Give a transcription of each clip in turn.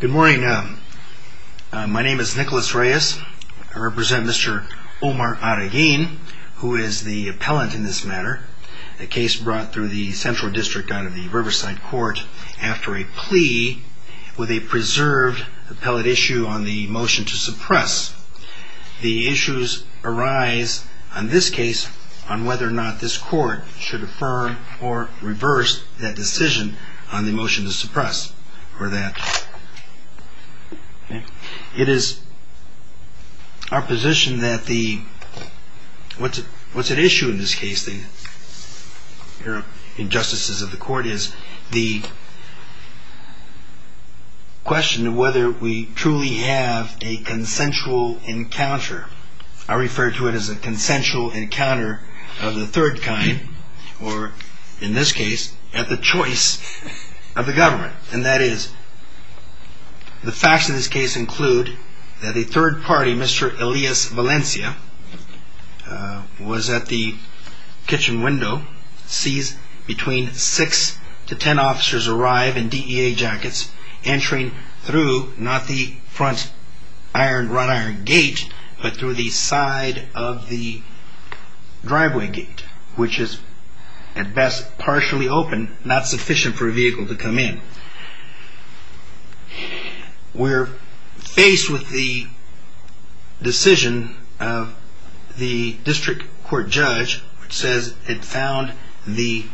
Good morning. My name is Nicholas Reyes. I represent Mr. Omar Arreguin, who is the appellant in this matter, a case brought through the Central District out of the Riverside Court after a plea with a preserved appellate issue on the motion to suppress. The issues arise on this case on whether or not this court should affirm or reverse that decision on the motion to suppress or that. It is our position that the, what's at issue in this case, the injustices of the court is the question of whether we truly have a consensual motion to suppress. I refer to it as a consensual encounter of the third kind, or in this case, at the choice of the government. And that is, the facts of this case include that the third party, Mr. Elias Valencia, was at the kitchen window, sees between six to ten officers arrive in DEA jackets, entering through not the front iron, front iron gate, but through the front door. Not through the front door gate, but through the side of the driveway gate, which is at best partially open, not sufficient for a vehicle to come in. We're faced with the decision of the district court judge, which says it found the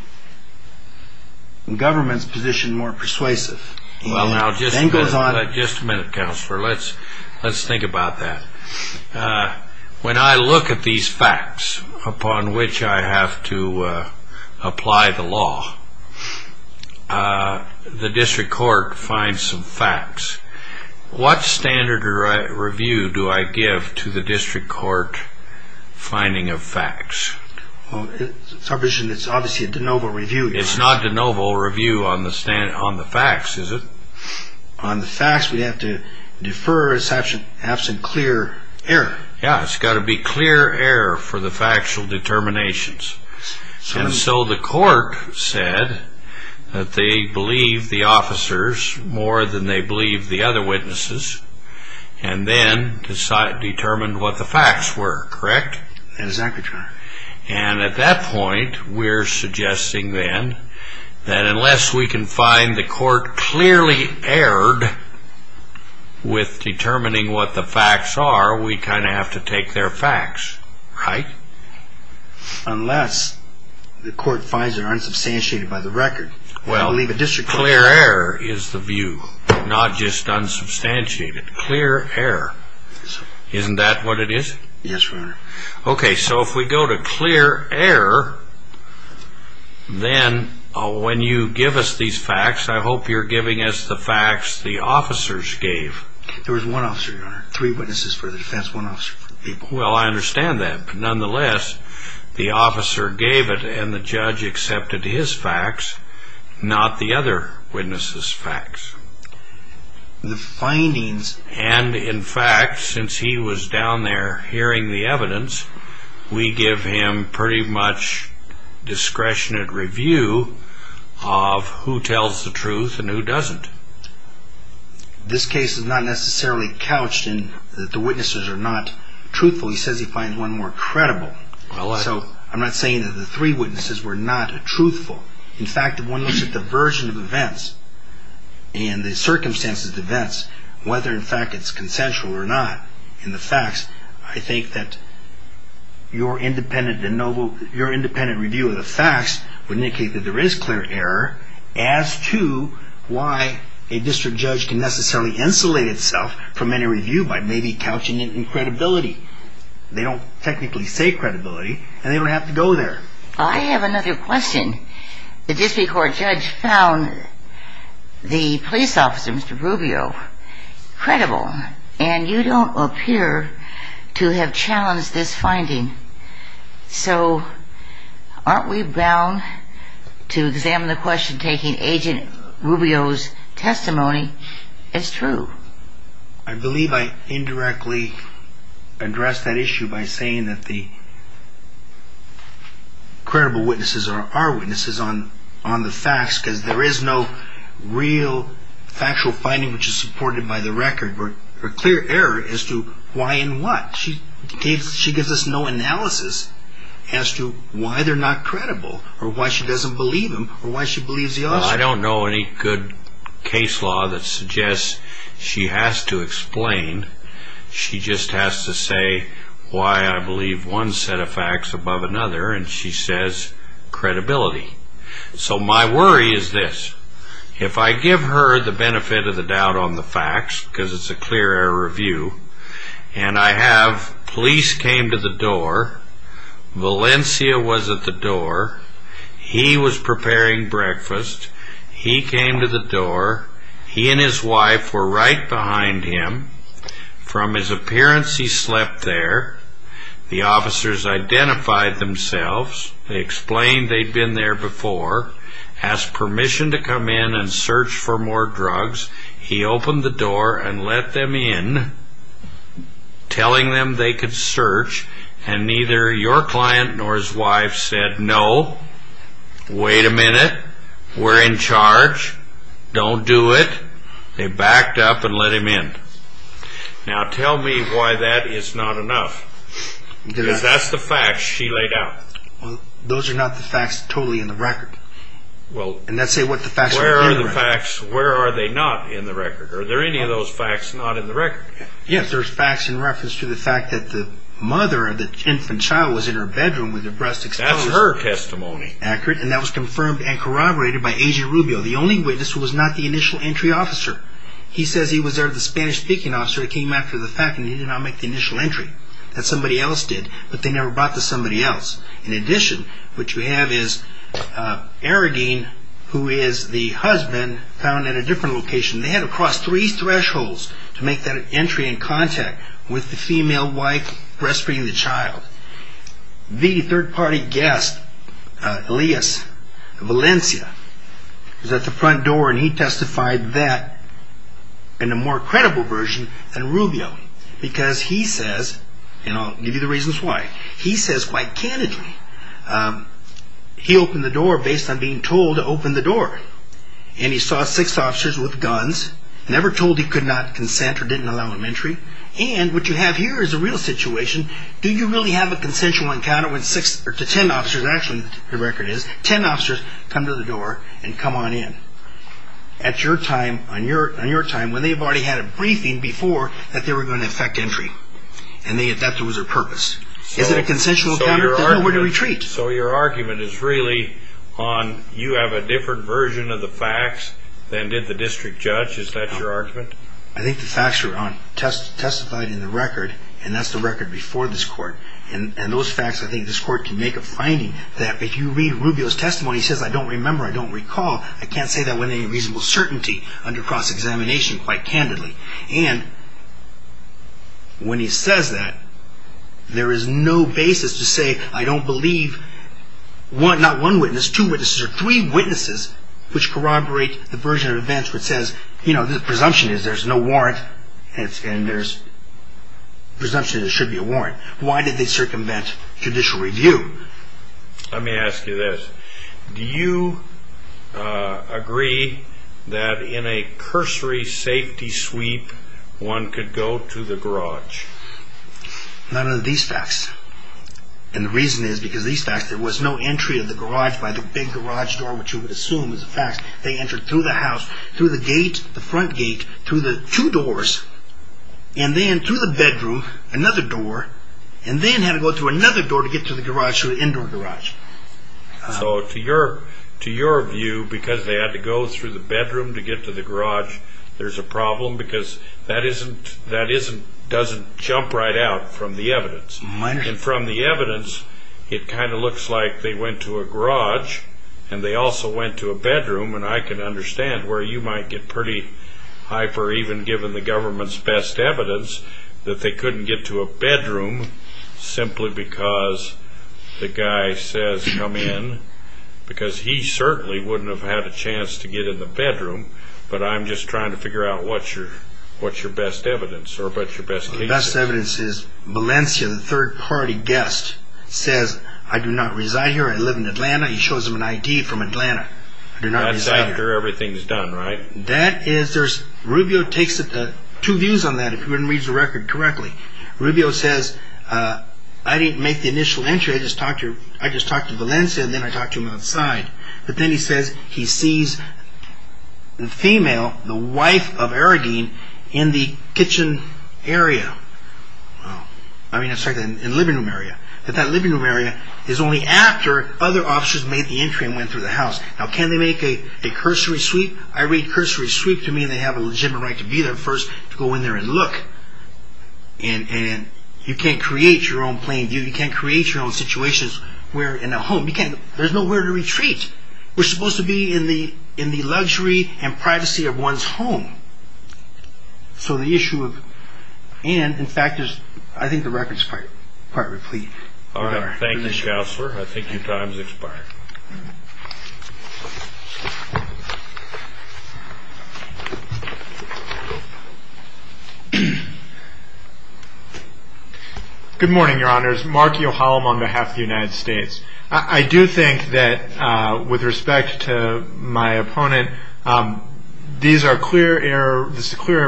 government's position more persuasive. Well, now, just a minute, Counselor. Let's think about that. When I look at these facts, upon which I have to apply the law, the district court finds some facts. What standard of review do I give to the district court finding of facts? Well, it's our position that it's obviously a de novo review. It's not de novo review on the facts, is it? On the facts, we have to defer, absent clear error. Yeah, it's got to be clear error for the factual determinations. And so the court said that they believed the officers more than they believed the other witnesses, and then determined what the facts were, correct? Exactly, Your Honor. And at that point, we're suggesting then that unless we can find the court clearly erred with determining what the facts are, we kind of have to take their facts, right? Unless the court finds they're unsubstantiated by the record. Well, clear error is the view, not just unsubstantiated. Clear error. Isn't that what it is? Yes, Your Honor. Okay, so if we go to clear error, then when you give us these facts, I hope you're giving us the facts the officers gave. There was one officer, Your Honor. Three witnesses for the defense, one officer for the people. Well, I understand that. But nonetheless, the officer gave it, and the judge accepted his facts, not the other witnesses' facts. The findings... And in fact, since he was down there hearing the evidence, we give him pretty much discretion at review of who tells the truth and who doesn't. This case is not necessarily couched in that the witnesses are not truthful. He says he finds one more credible. So I'm not saying that the three witnesses were not truthful. In fact, if one looks at the version of events and the circumstances of events, whether in fact it's consensual or not in the facts, I think that your independent review of the facts would indicate that there is clear error as to why a district judge can necessarily insulate itself from any review by maybe couching it in credibility. They don't technically say credibility, and they don't have to go there. I have another question. The district court judge found the police officer, Mr. Rubio, credible, and you don't appear to have challenged this finding. So aren't we bound to examine the question taking Agent Rubio's testimony as true? I believe I indirectly addressed that issue by saying that the credible witnesses are our witnesses on the facts, because there is no real factual finding which is supported by the record or clear error as to why and what. She gives us no analysis as to why they're not credible or why she doesn't believe them or why she believes the officer. Well, I don't know any good case law that suggests she has to explain. She just has to say why I believe one set of facts above another, and she says credibility. So my worry is this. If I give her the benefit of the doubt on the facts, because it's a clear error review, and I have police came to the door. Valencia was at the door. He was preparing breakfast. He came to the door. He and his wife were right behind him. From his appearance, he slept there. The officers identified themselves. They explained they'd been there before, asked permission to come in and search for more drugs. He opened the door and let them in, telling them they could search, and neither your client nor his wife said, no, wait a minute, we're in charge, don't do it. They backed up and let him in. Now tell me why that is not enough, because that's the facts she laid out. Well, those are not the facts totally in the record. Well, where are the facts, where are they not in the record? Are there any of those facts not in the record? Yes, there's facts in reference to the fact that the mother of the infant child was in her bedroom with her breast exposed. That's her testimony. Accurate, and that was confirmed and corroborated by A.G. Rubio, the only witness who was not the initial entry officer. He says he was there with the Spanish-speaking officer that came after the fact, and he did not make the initial entry. That somebody else did, but they never brought the somebody else. In addition, what you have is Aradine, who is the husband, found at a different location. They had to cross three thresholds to make that entry in contact with the female wife breastfeeding the child. The third-party guest, Elias Valencia, was at the front door, and he testified that in a more credible version than Rubio, because he says, and I'll give you the reasons why, he says quite candidly, he opened the door based on being told to open the door. And he saw six officers with guns, never told he could not consent or didn't allow him entry. And what you have here is a real situation. Do you really have a consensual encounter when six or ten officers, actually the record is, ten officers come to the door and come on in? At your time, on your time, when they've already had a briefing before, that they were going to affect entry. And that was their purpose. Is it a consensual encounter? They're nowhere to retreat. So your argument is really on, you have a different version of the facts than did the district judge? Is that your argument? I think the facts were on, testified in the record, and that's the record before this court. And those facts, I think this court can make a finding that if you read Rubio's testimony, he says, I don't remember, I don't recall. I can't say that with any reasonable certainty under cross-examination quite candidly. And when he says that, there is no basis to say, I don't believe one, not one witness, two witnesses or three witnesses, which corroborate the version of events which says, you know, the presumption is there's no warrant and there's presumption there should be a warrant. Why did they circumvent judicial review? Let me ask you this. Do you agree that in a cursory safety sweep, one could go to the garage? None of these facts. And the reason is because these facts, there was no entry of the garage by the big garage door, which you would assume is a fact. They entered through the house, through the gate, the front gate, through the two doors, and then through the bedroom, another door, and then had to go through another door to get to the garage through the indoor garage. So to your view, because they had to go through the bedroom to get to the garage, there's a problem because that doesn't jump right out from the evidence. And from the evidence, it kind of looks like they went to a garage and they also went to a bedroom. And I can understand where you might get pretty hyper, even given the government's best evidence, that they couldn't get to a bedroom simply because the guy says come in, because he certainly wouldn't have had a chance to get in the bedroom. But I'm just trying to figure out what's your best evidence or what's your best case. The best evidence is Valencia, the third-party guest, says, I do not reside here. I live in Atlanta. He shows him an ID from Atlanta. I do not reside here. That's after everything's done, right? Rubio takes two views on that, if one reads the record correctly. Rubio says, I didn't make the initial entry. I just talked to Valencia and then I talked to him outside. But then he says he sees the female, the wife of Aragine, in the kitchen area. I mean, I'm sorry, in the living room area. But that living room area is only after other officers made the entry and went through the house. Now, can they make a cursory sweep? I read cursory sweep to mean they have a legitimate right to be there first, to go in there and look. And you can't create your own plain view. You can't create your own situations where, in a home, there's nowhere to retreat. We're supposed to be in the luxury and privacy of one's home. So the issue of and, in fact, is I think the record's quite replete. All right. Thank you, Counselor. I think your time has expired. Good morning, Your Honors. Mark Yohalam on behalf of the United States. I do think that, with respect to my opponent, this is a clear error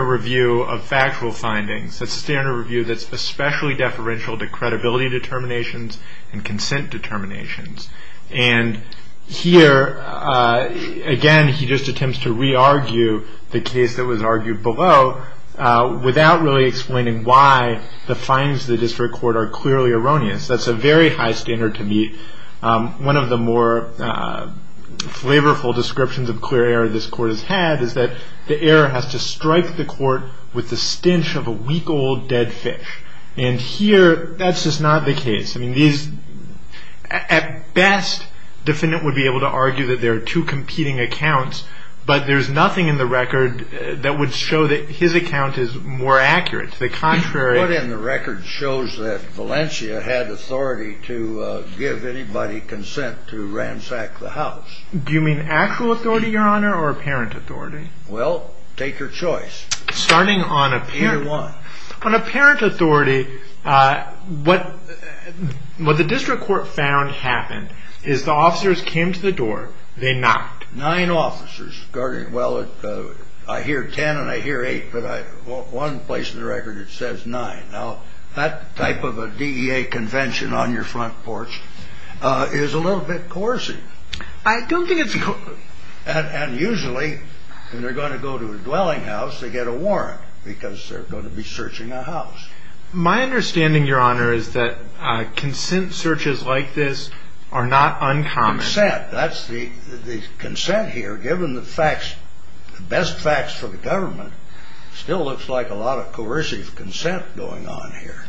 review of factual findings. It's a standard review that's especially deferential to credibility determinations and consent determinations. And here, again, he just attempts to re-argue the case that was argued below without really explaining why the findings of the district court are clearly erroneous. That's a very high standard to meet. One of the more flavorful descriptions of clear error this court has had is that the error has to strike the court with the stench of a week-old dead fish. And here, that's just not the case. I mean, at best, the defendant would be able to argue that there are two competing accounts, but there's nothing in the record that would show that his account is more accurate. What's in the record shows that Valencia had authority to give anybody consent to ransack the house. Do you mean actual authority, Your Honor, or apparent authority? Well, take your choice. Either one. On apparent authority, what the district court found happened is the officers came to the door, they knocked. Nine officers. Well, I hear ten and I hear eight, but one place in the record it says nine. Now, that type of a DEA convention on your front porch is a little bit coercive. I don't think it's coercive. And usually, when they're going to go to a dwelling house, they get a warrant because they're going to be searching a house. My understanding, Your Honor, is that consent searches like this are not uncommon. Consent, that's the consent here, given the facts, the best facts for the government, still looks like a lot of coercive consent going on here.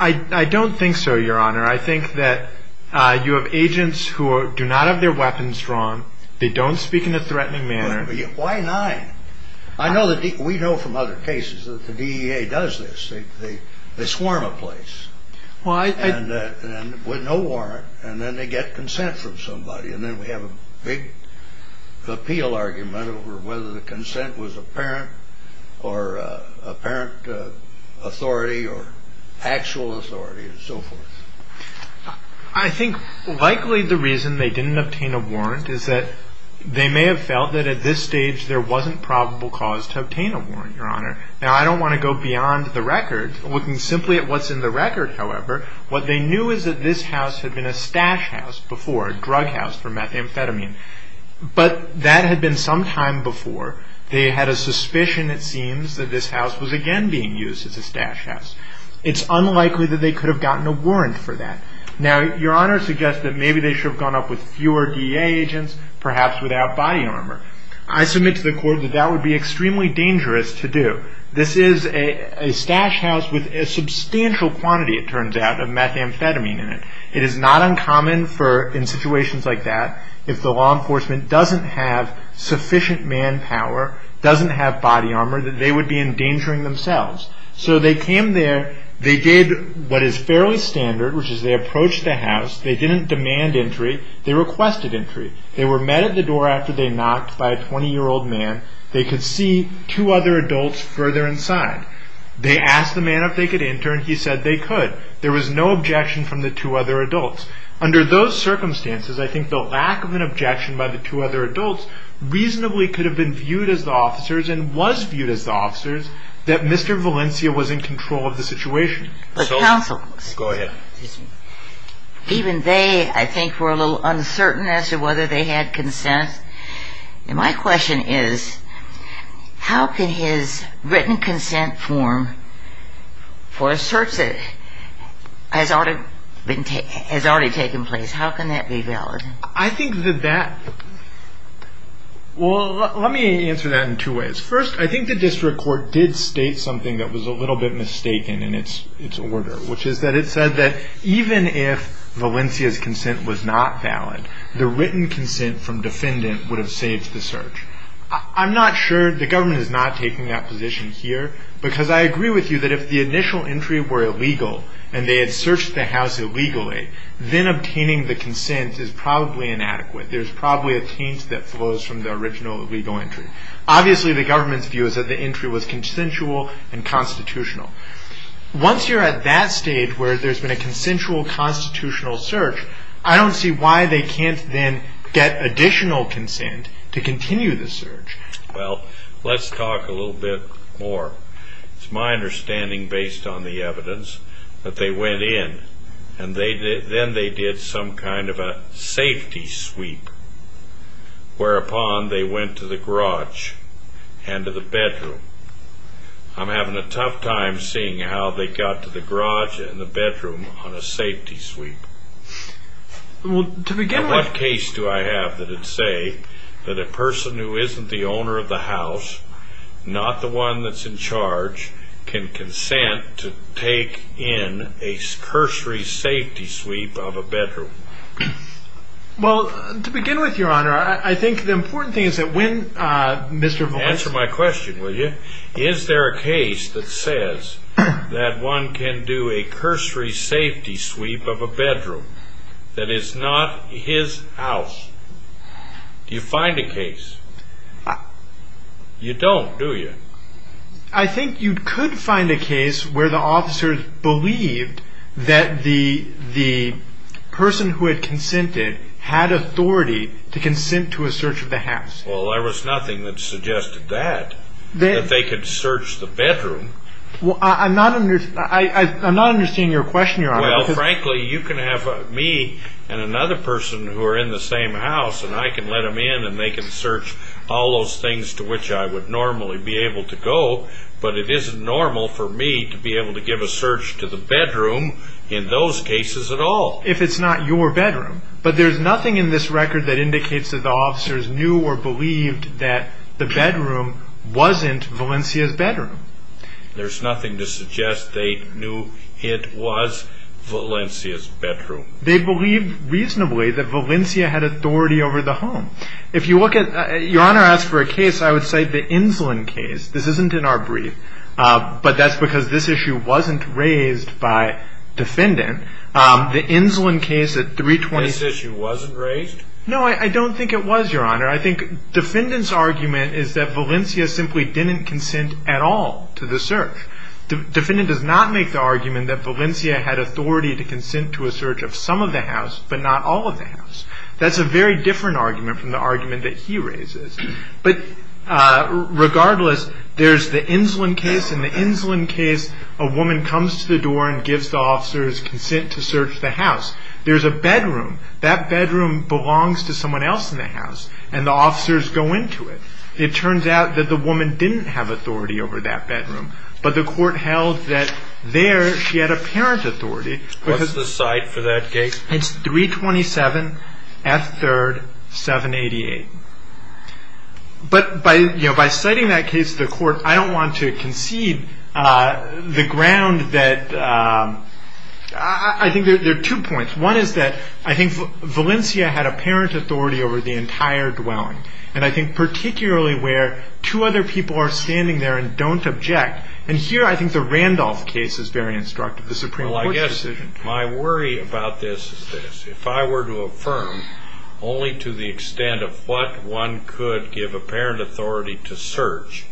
I don't think so, Your Honor. I think that you have agents who do not have their weapons drawn. They don't speak in a threatening manner. Why nine? I know that we know from other cases that the DEA does this. They swarm a place with no warrant, and then they get consent from somebody, and then we have a big appeal argument over whether the consent was apparent or apparent authority or actual authority and so forth. I think likely the reason they didn't obtain a warrant is that they may have felt that at this stage there wasn't probable cause to obtain a warrant, Your Honor. Now, I don't want to go beyond the record. Looking simply at what's in the record, however, what they knew is that this house had been a stash house before, a drug house for methamphetamine. But that had been some time before. They had a suspicion, it seems, that this house was again being used as a stash house. It's unlikely that they could have gotten a warrant for that. Now, Your Honor suggests that maybe they should have gone up with fewer DEA agents, perhaps without body armor. I submit to the court that that would be extremely dangerous to do. This is a stash house with a substantial quantity, it turns out, of methamphetamine in it. It is not uncommon for, in situations like that, if the law enforcement doesn't have sufficient manpower, doesn't have body armor, that they would be endangering themselves. So they came there. They did what is fairly standard, which is they approached the house. They didn't demand entry. They requested entry. They were met at the door after they knocked by a 20-year-old man. They could see two other adults further inside. They asked the man if they could enter, and he said they could. There was no objection from the two other adults. Under those circumstances, I think the lack of an objection by the two other adults reasonably could have been viewed as the officers and was viewed as the officers that Mr. Valencia was in control of the situation. Go ahead. Even they, I think, were a little uncertain as to whether they had consent. And my question is, how can his written consent form for a search that has already taken place, how can that be valid? I think that that – well, let me answer that in two ways. First, I think the district court did state something that was a little bit mistaken, in its order, which is that it said that even if Valencia's consent was not valid, the written consent from defendant would have saved the search. I'm not sure the government is not taking that position here because I agree with you that if the initial entry were illegal and they had searched the house illegally, then obtaining the consent is probably inadequate. There's probably a taint that flows from the original illegal entry. Obviously, the government's view is that the entry was consensual and constitutional. Once you're at that stage where there's been a consensual constitutional search, I don't see why they can't then get additional consent to continue the search. Well, let's talk a little bit more. It's my understanding, based on the evidence, that they went in and then they did some kind of a safety sweep, whereupon they went to the garage and to the bedroom. I'm having a tough time seeing how they got to the garage and the bedroom on a safety sweep. Well, to begin with – In what case do I have that would say that a person who isn't the owner of the house, not the one that's in charge, can consent to take in a cursory safety sweep of a bedroom? Well, to begin with, Your Honor, I think the important thing is that when Mr. – Answer my question, will you? Is there a case that says that one can do a cursory safety sweep of a bedroom that is not his house? Do you find a case? You don't, do you? I think you could find a case where the officers believed that the person who had consented had authority to consent to a search of the house. Well, there was nothing that suggested that, that they could search the bedroom. Well, I'm not – I'm not understanding your question, Your Honor. Well, frankly, you can have me and another person who are in the same house and I can let them in and they can search all those things to which I would normally be able to go, but it isn't normal for me to be able to give a search to the bedroom in those cases at all. If it's not your bedroom. But there's nothing in this record that indicates that the officers knew or believed that the bedroom wasn't Valencia's bedroom. There's nothing to suggest they knew it was Valencia's bedroom. They believed reasonably that Valencia had authority over the home. If you look at – Your Honor asked for a case, I would say the Insulin case. This isn't in our brief, but that's because this issue wasn't raised by defendant. The Insulin case at 326 – This issue wasn't raised? No, I don't think it was, Your Honor. I think defendant's argument is that Valencia simply didn't consent at all to the search. Defendant does not make the argument that Valencia had authority to consent to a search of some of the house but not all of the house. That's a very different argument from the argument that he raises. But regardless, there's the Insulin case. In the Insulin case, a woman comes to the door and gives the officers consent to search the house. There's a bedroom. That bedroom belongs to someone else in the house, and the officers go into it. It turns out that the woman didn't have authority over that bedroom, but the court held that there she had apparent authority. What's the cite for that case? It's 327 F. 3rd, 788. But by citing that case to the court, I don't want to concede the ground that – I think there are two points. One is that I think Valencia had apparent authority over the entire dwelling, and I think particularly where two other people are standing there and don't object. And here I think the Randolph case is very instructive, the Supreme Court's decision. Well, I guess my worry about this is this. If I were to affirm only to the extent of what one could give apparent authority to search,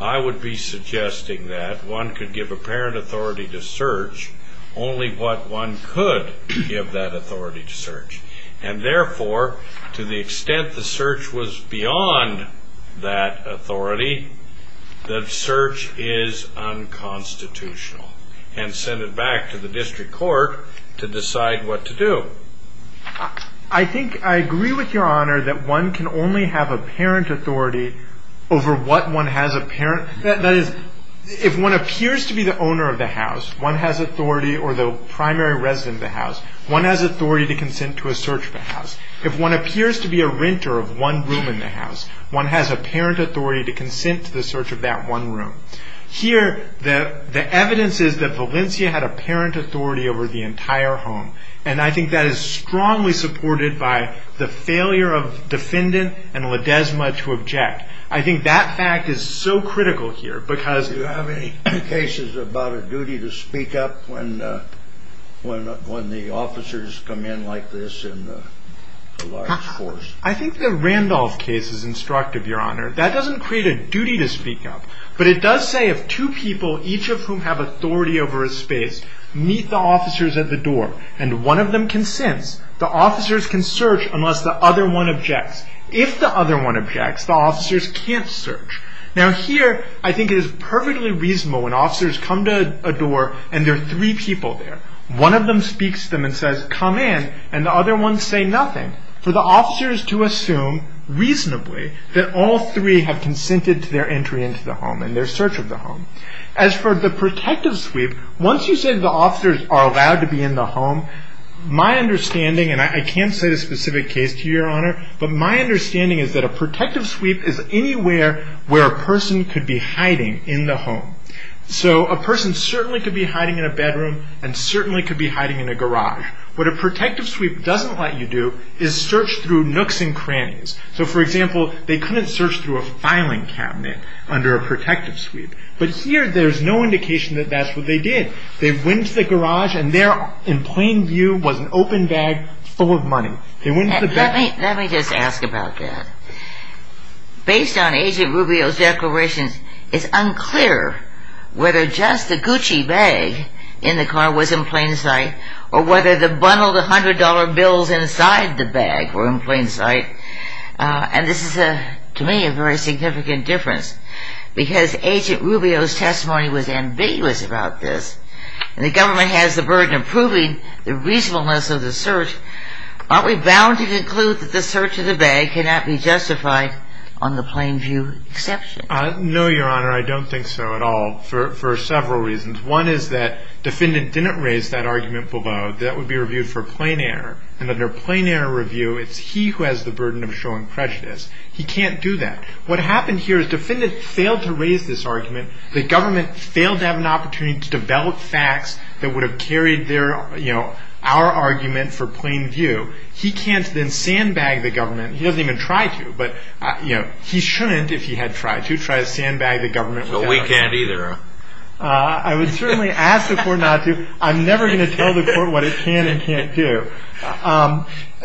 I would be suggesting that one could give apparent authority to search only what one could give that authority to search. And therefore, to the extent the search was beyond that authority, the search is unconstitutional and sent it back to the district court to decide what to do. I think I agree with Your Honor that one can only have apparent authority over what one has apparent. That is, if one appears to be the owner of the house, one has authority, or the primary resident of the house, one has authority to consent to a search of the house. If one appears to be a renter of one room in the house, one has apparent authority to consent to the search of that one room. Here the evidence is that Valencia had apparent authority over the entire home, and I think that is strongly supported by the failure of defendant and Ledesma to object. I think that fact is so critical here because... Do you have any cases about a duty to speak up when the officers come in like this in a large force? I think the Randolph case is instructive, Your Honor. That doesn't create a duty to speak up, but it does say if two people, each of whom have authority over a space, meet the officers at the door and one of them consents, the officers can search unless the other one objects. If the other one objects, the officers can't search. Now here I think it is perfectly reasonable when officers come to a door and there are three people there. One of them speaks to them and says, come in, and the other ones say nothing. For the officers to assume reasonably that all three have consented to their entry into the home and their search of the home. As for the protective sweep, once you say the officers are allowed to be in the home, my understanding, and I can't say the specific case to you, Your Honor, but my understanding is that a protective sweep is anywhere where a person could be hiding in the home. A person certainly could be hiding in a bedroom and certainly could be hiding in a garage. What a protective sweep doesn't let you do is search through nooks and crannies. For example, they couldn't search through a filing cabinet under a protective sweep, but here there's no indication that that's what they did. They went to the garage and there in plain view was an open bag full of money. Let me just ask about that. Based on Agent Rubio's declarations, it's unclear whether just the Gucci bag in the car was in plain sight or whether the bundled $100 bills inside the bag were in plain sight. And this is, to me, a very significant difference because Agent Rubio's testimony was ambiguous about this and the government has the burden of proving the reasonableness of the search. Aren't we bound to conclude that the search of the bag cannot be justified on the plain view exception? No, Your Honor, I don't think so at all for several reasons. One is that defendant didn't raise that argument below that it would be reviewed for plain error and under plain error review it's he who has the burden of showing prejudice. He can't do that. What happened here is defendant failed to raise this argument. The government failed to have an opportunity to develop facts that would have carried our argument for plain view. He can't then sandbag the government. He doesn't even try to, but he shouldn't if he had tried to try to sandbag the government. But we can't either. I would certainly ask the court not to. I'm never going to tell the court what it can and can't do.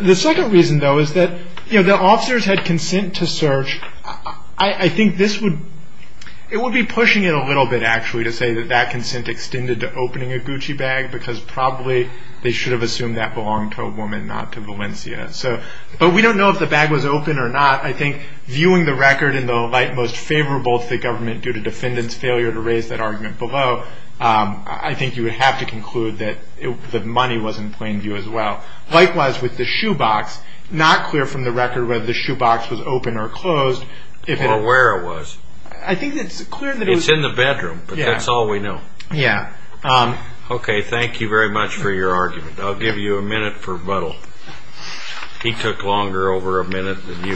The second reason, though, is that the officers had consent to search. I think this would be pushing it a little bit, actually, to say that that consent extended to opening a Gucci bag because probably they should have assumed that belonged to a woman, not to Valencia. But we don't know if the bag was open or not. I think viewing the record in the light most favorable to the government due to defendant's failure to raise that argument below, I think you would have to conclude that the money was in plain view as well. Likewise with the shoebox, not clear from the record whether the shoebox was open or closed. Or where it was. I think it's clear that it was... It's in the bedroom, but that's all we know. Yeah. Okay, thank you very much for your argument. I'll give you a minute for Buttle. He took longer over a minute than you.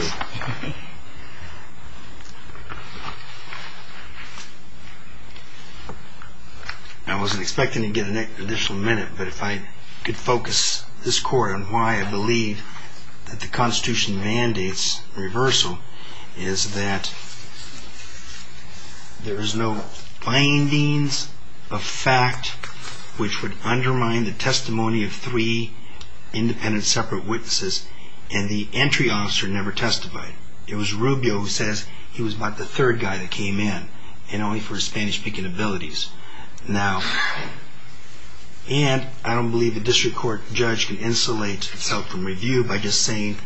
I wasn't expecting to get an additional minute, but if I could focus this court on why I believe that the Constitution mandates reversal is that there's no findings of fact which would undermine the testimony of three independent separate witnesses and the entry officer never testified. It was Rubio who says he was about the third guy that came in and only for his Spanish speaking abilities. Now, and I don't believe the district court judge can insulate itself from review by just saying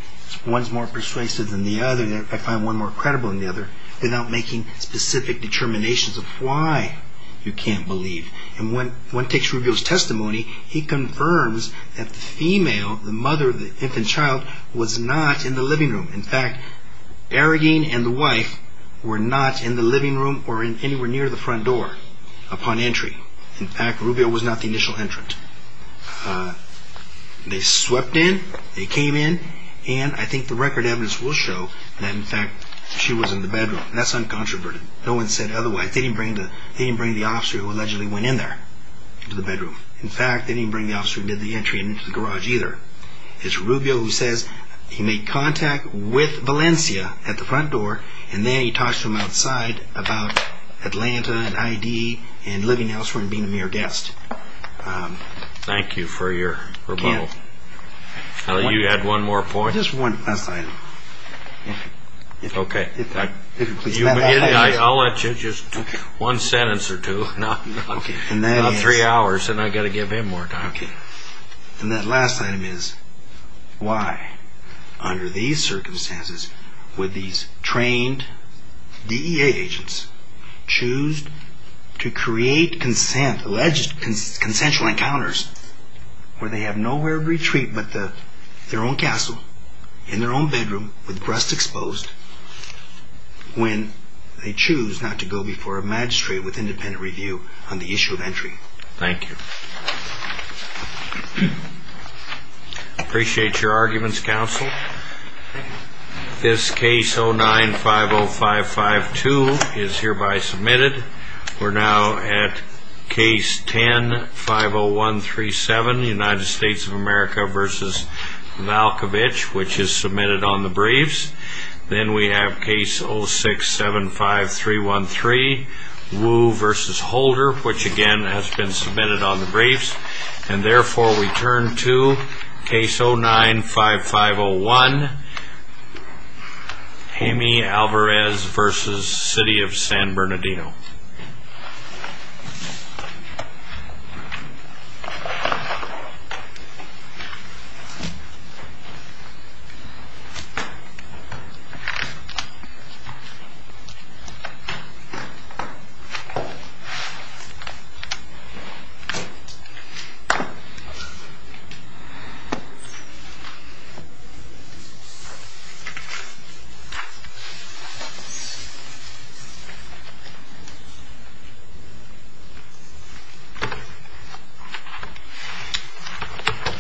one's more persuasive than the other, I find one more credible than the other, without making specific determinations of why you can't believe. And when it takes Rubio's testimony, he confirms that the female, the mother of the infant child, was not in the living room. In fact, Aragon and the wife were not in the living room or anywhere near the front door upon entry. In fact, Rubio was not the initial entrant. They swept in, they came in, and I think the record evidence will show that in fact she was in the bedroom. That's uncontroverted. No one said otherwise. They didn't bring the officer who allegedly went in there into the bedroom. In fact, they didn't bring the officer who did the entry into the garage either. It's Rubio who says he made contact with Valencia at the front door, and then he talks to him outside about Atlanta and ID and living elsewhere and being a mere guest. Thank you for your rebuttal. You had one more point? Just one last item. Okay. I'll let you just one sentence or two. About three hours, and I've got to give him more time. Okay. Then that last item is why, under these circumstances, would these trained DEA agents choose to create consent, alleged consensual encounters where they have nowhere to retreat but their own castle in their own bedroom with breasts exposed when they choose not to go before a magistrate with independent review on the issue of entry? Thank you. Appreciate your arguments, counsel. This case 09-50552 is hereby submitted. We're now at case 10-50137, United States of America v. Malkovich, which is submitted on the briefs. Then we have case 06-75313, Wu v. Holder, which, again, has been submitted on the briefs. And, therefore, we turn to case 09-5501, Jaime Alvarez v. City of San Bernardino. Thank you.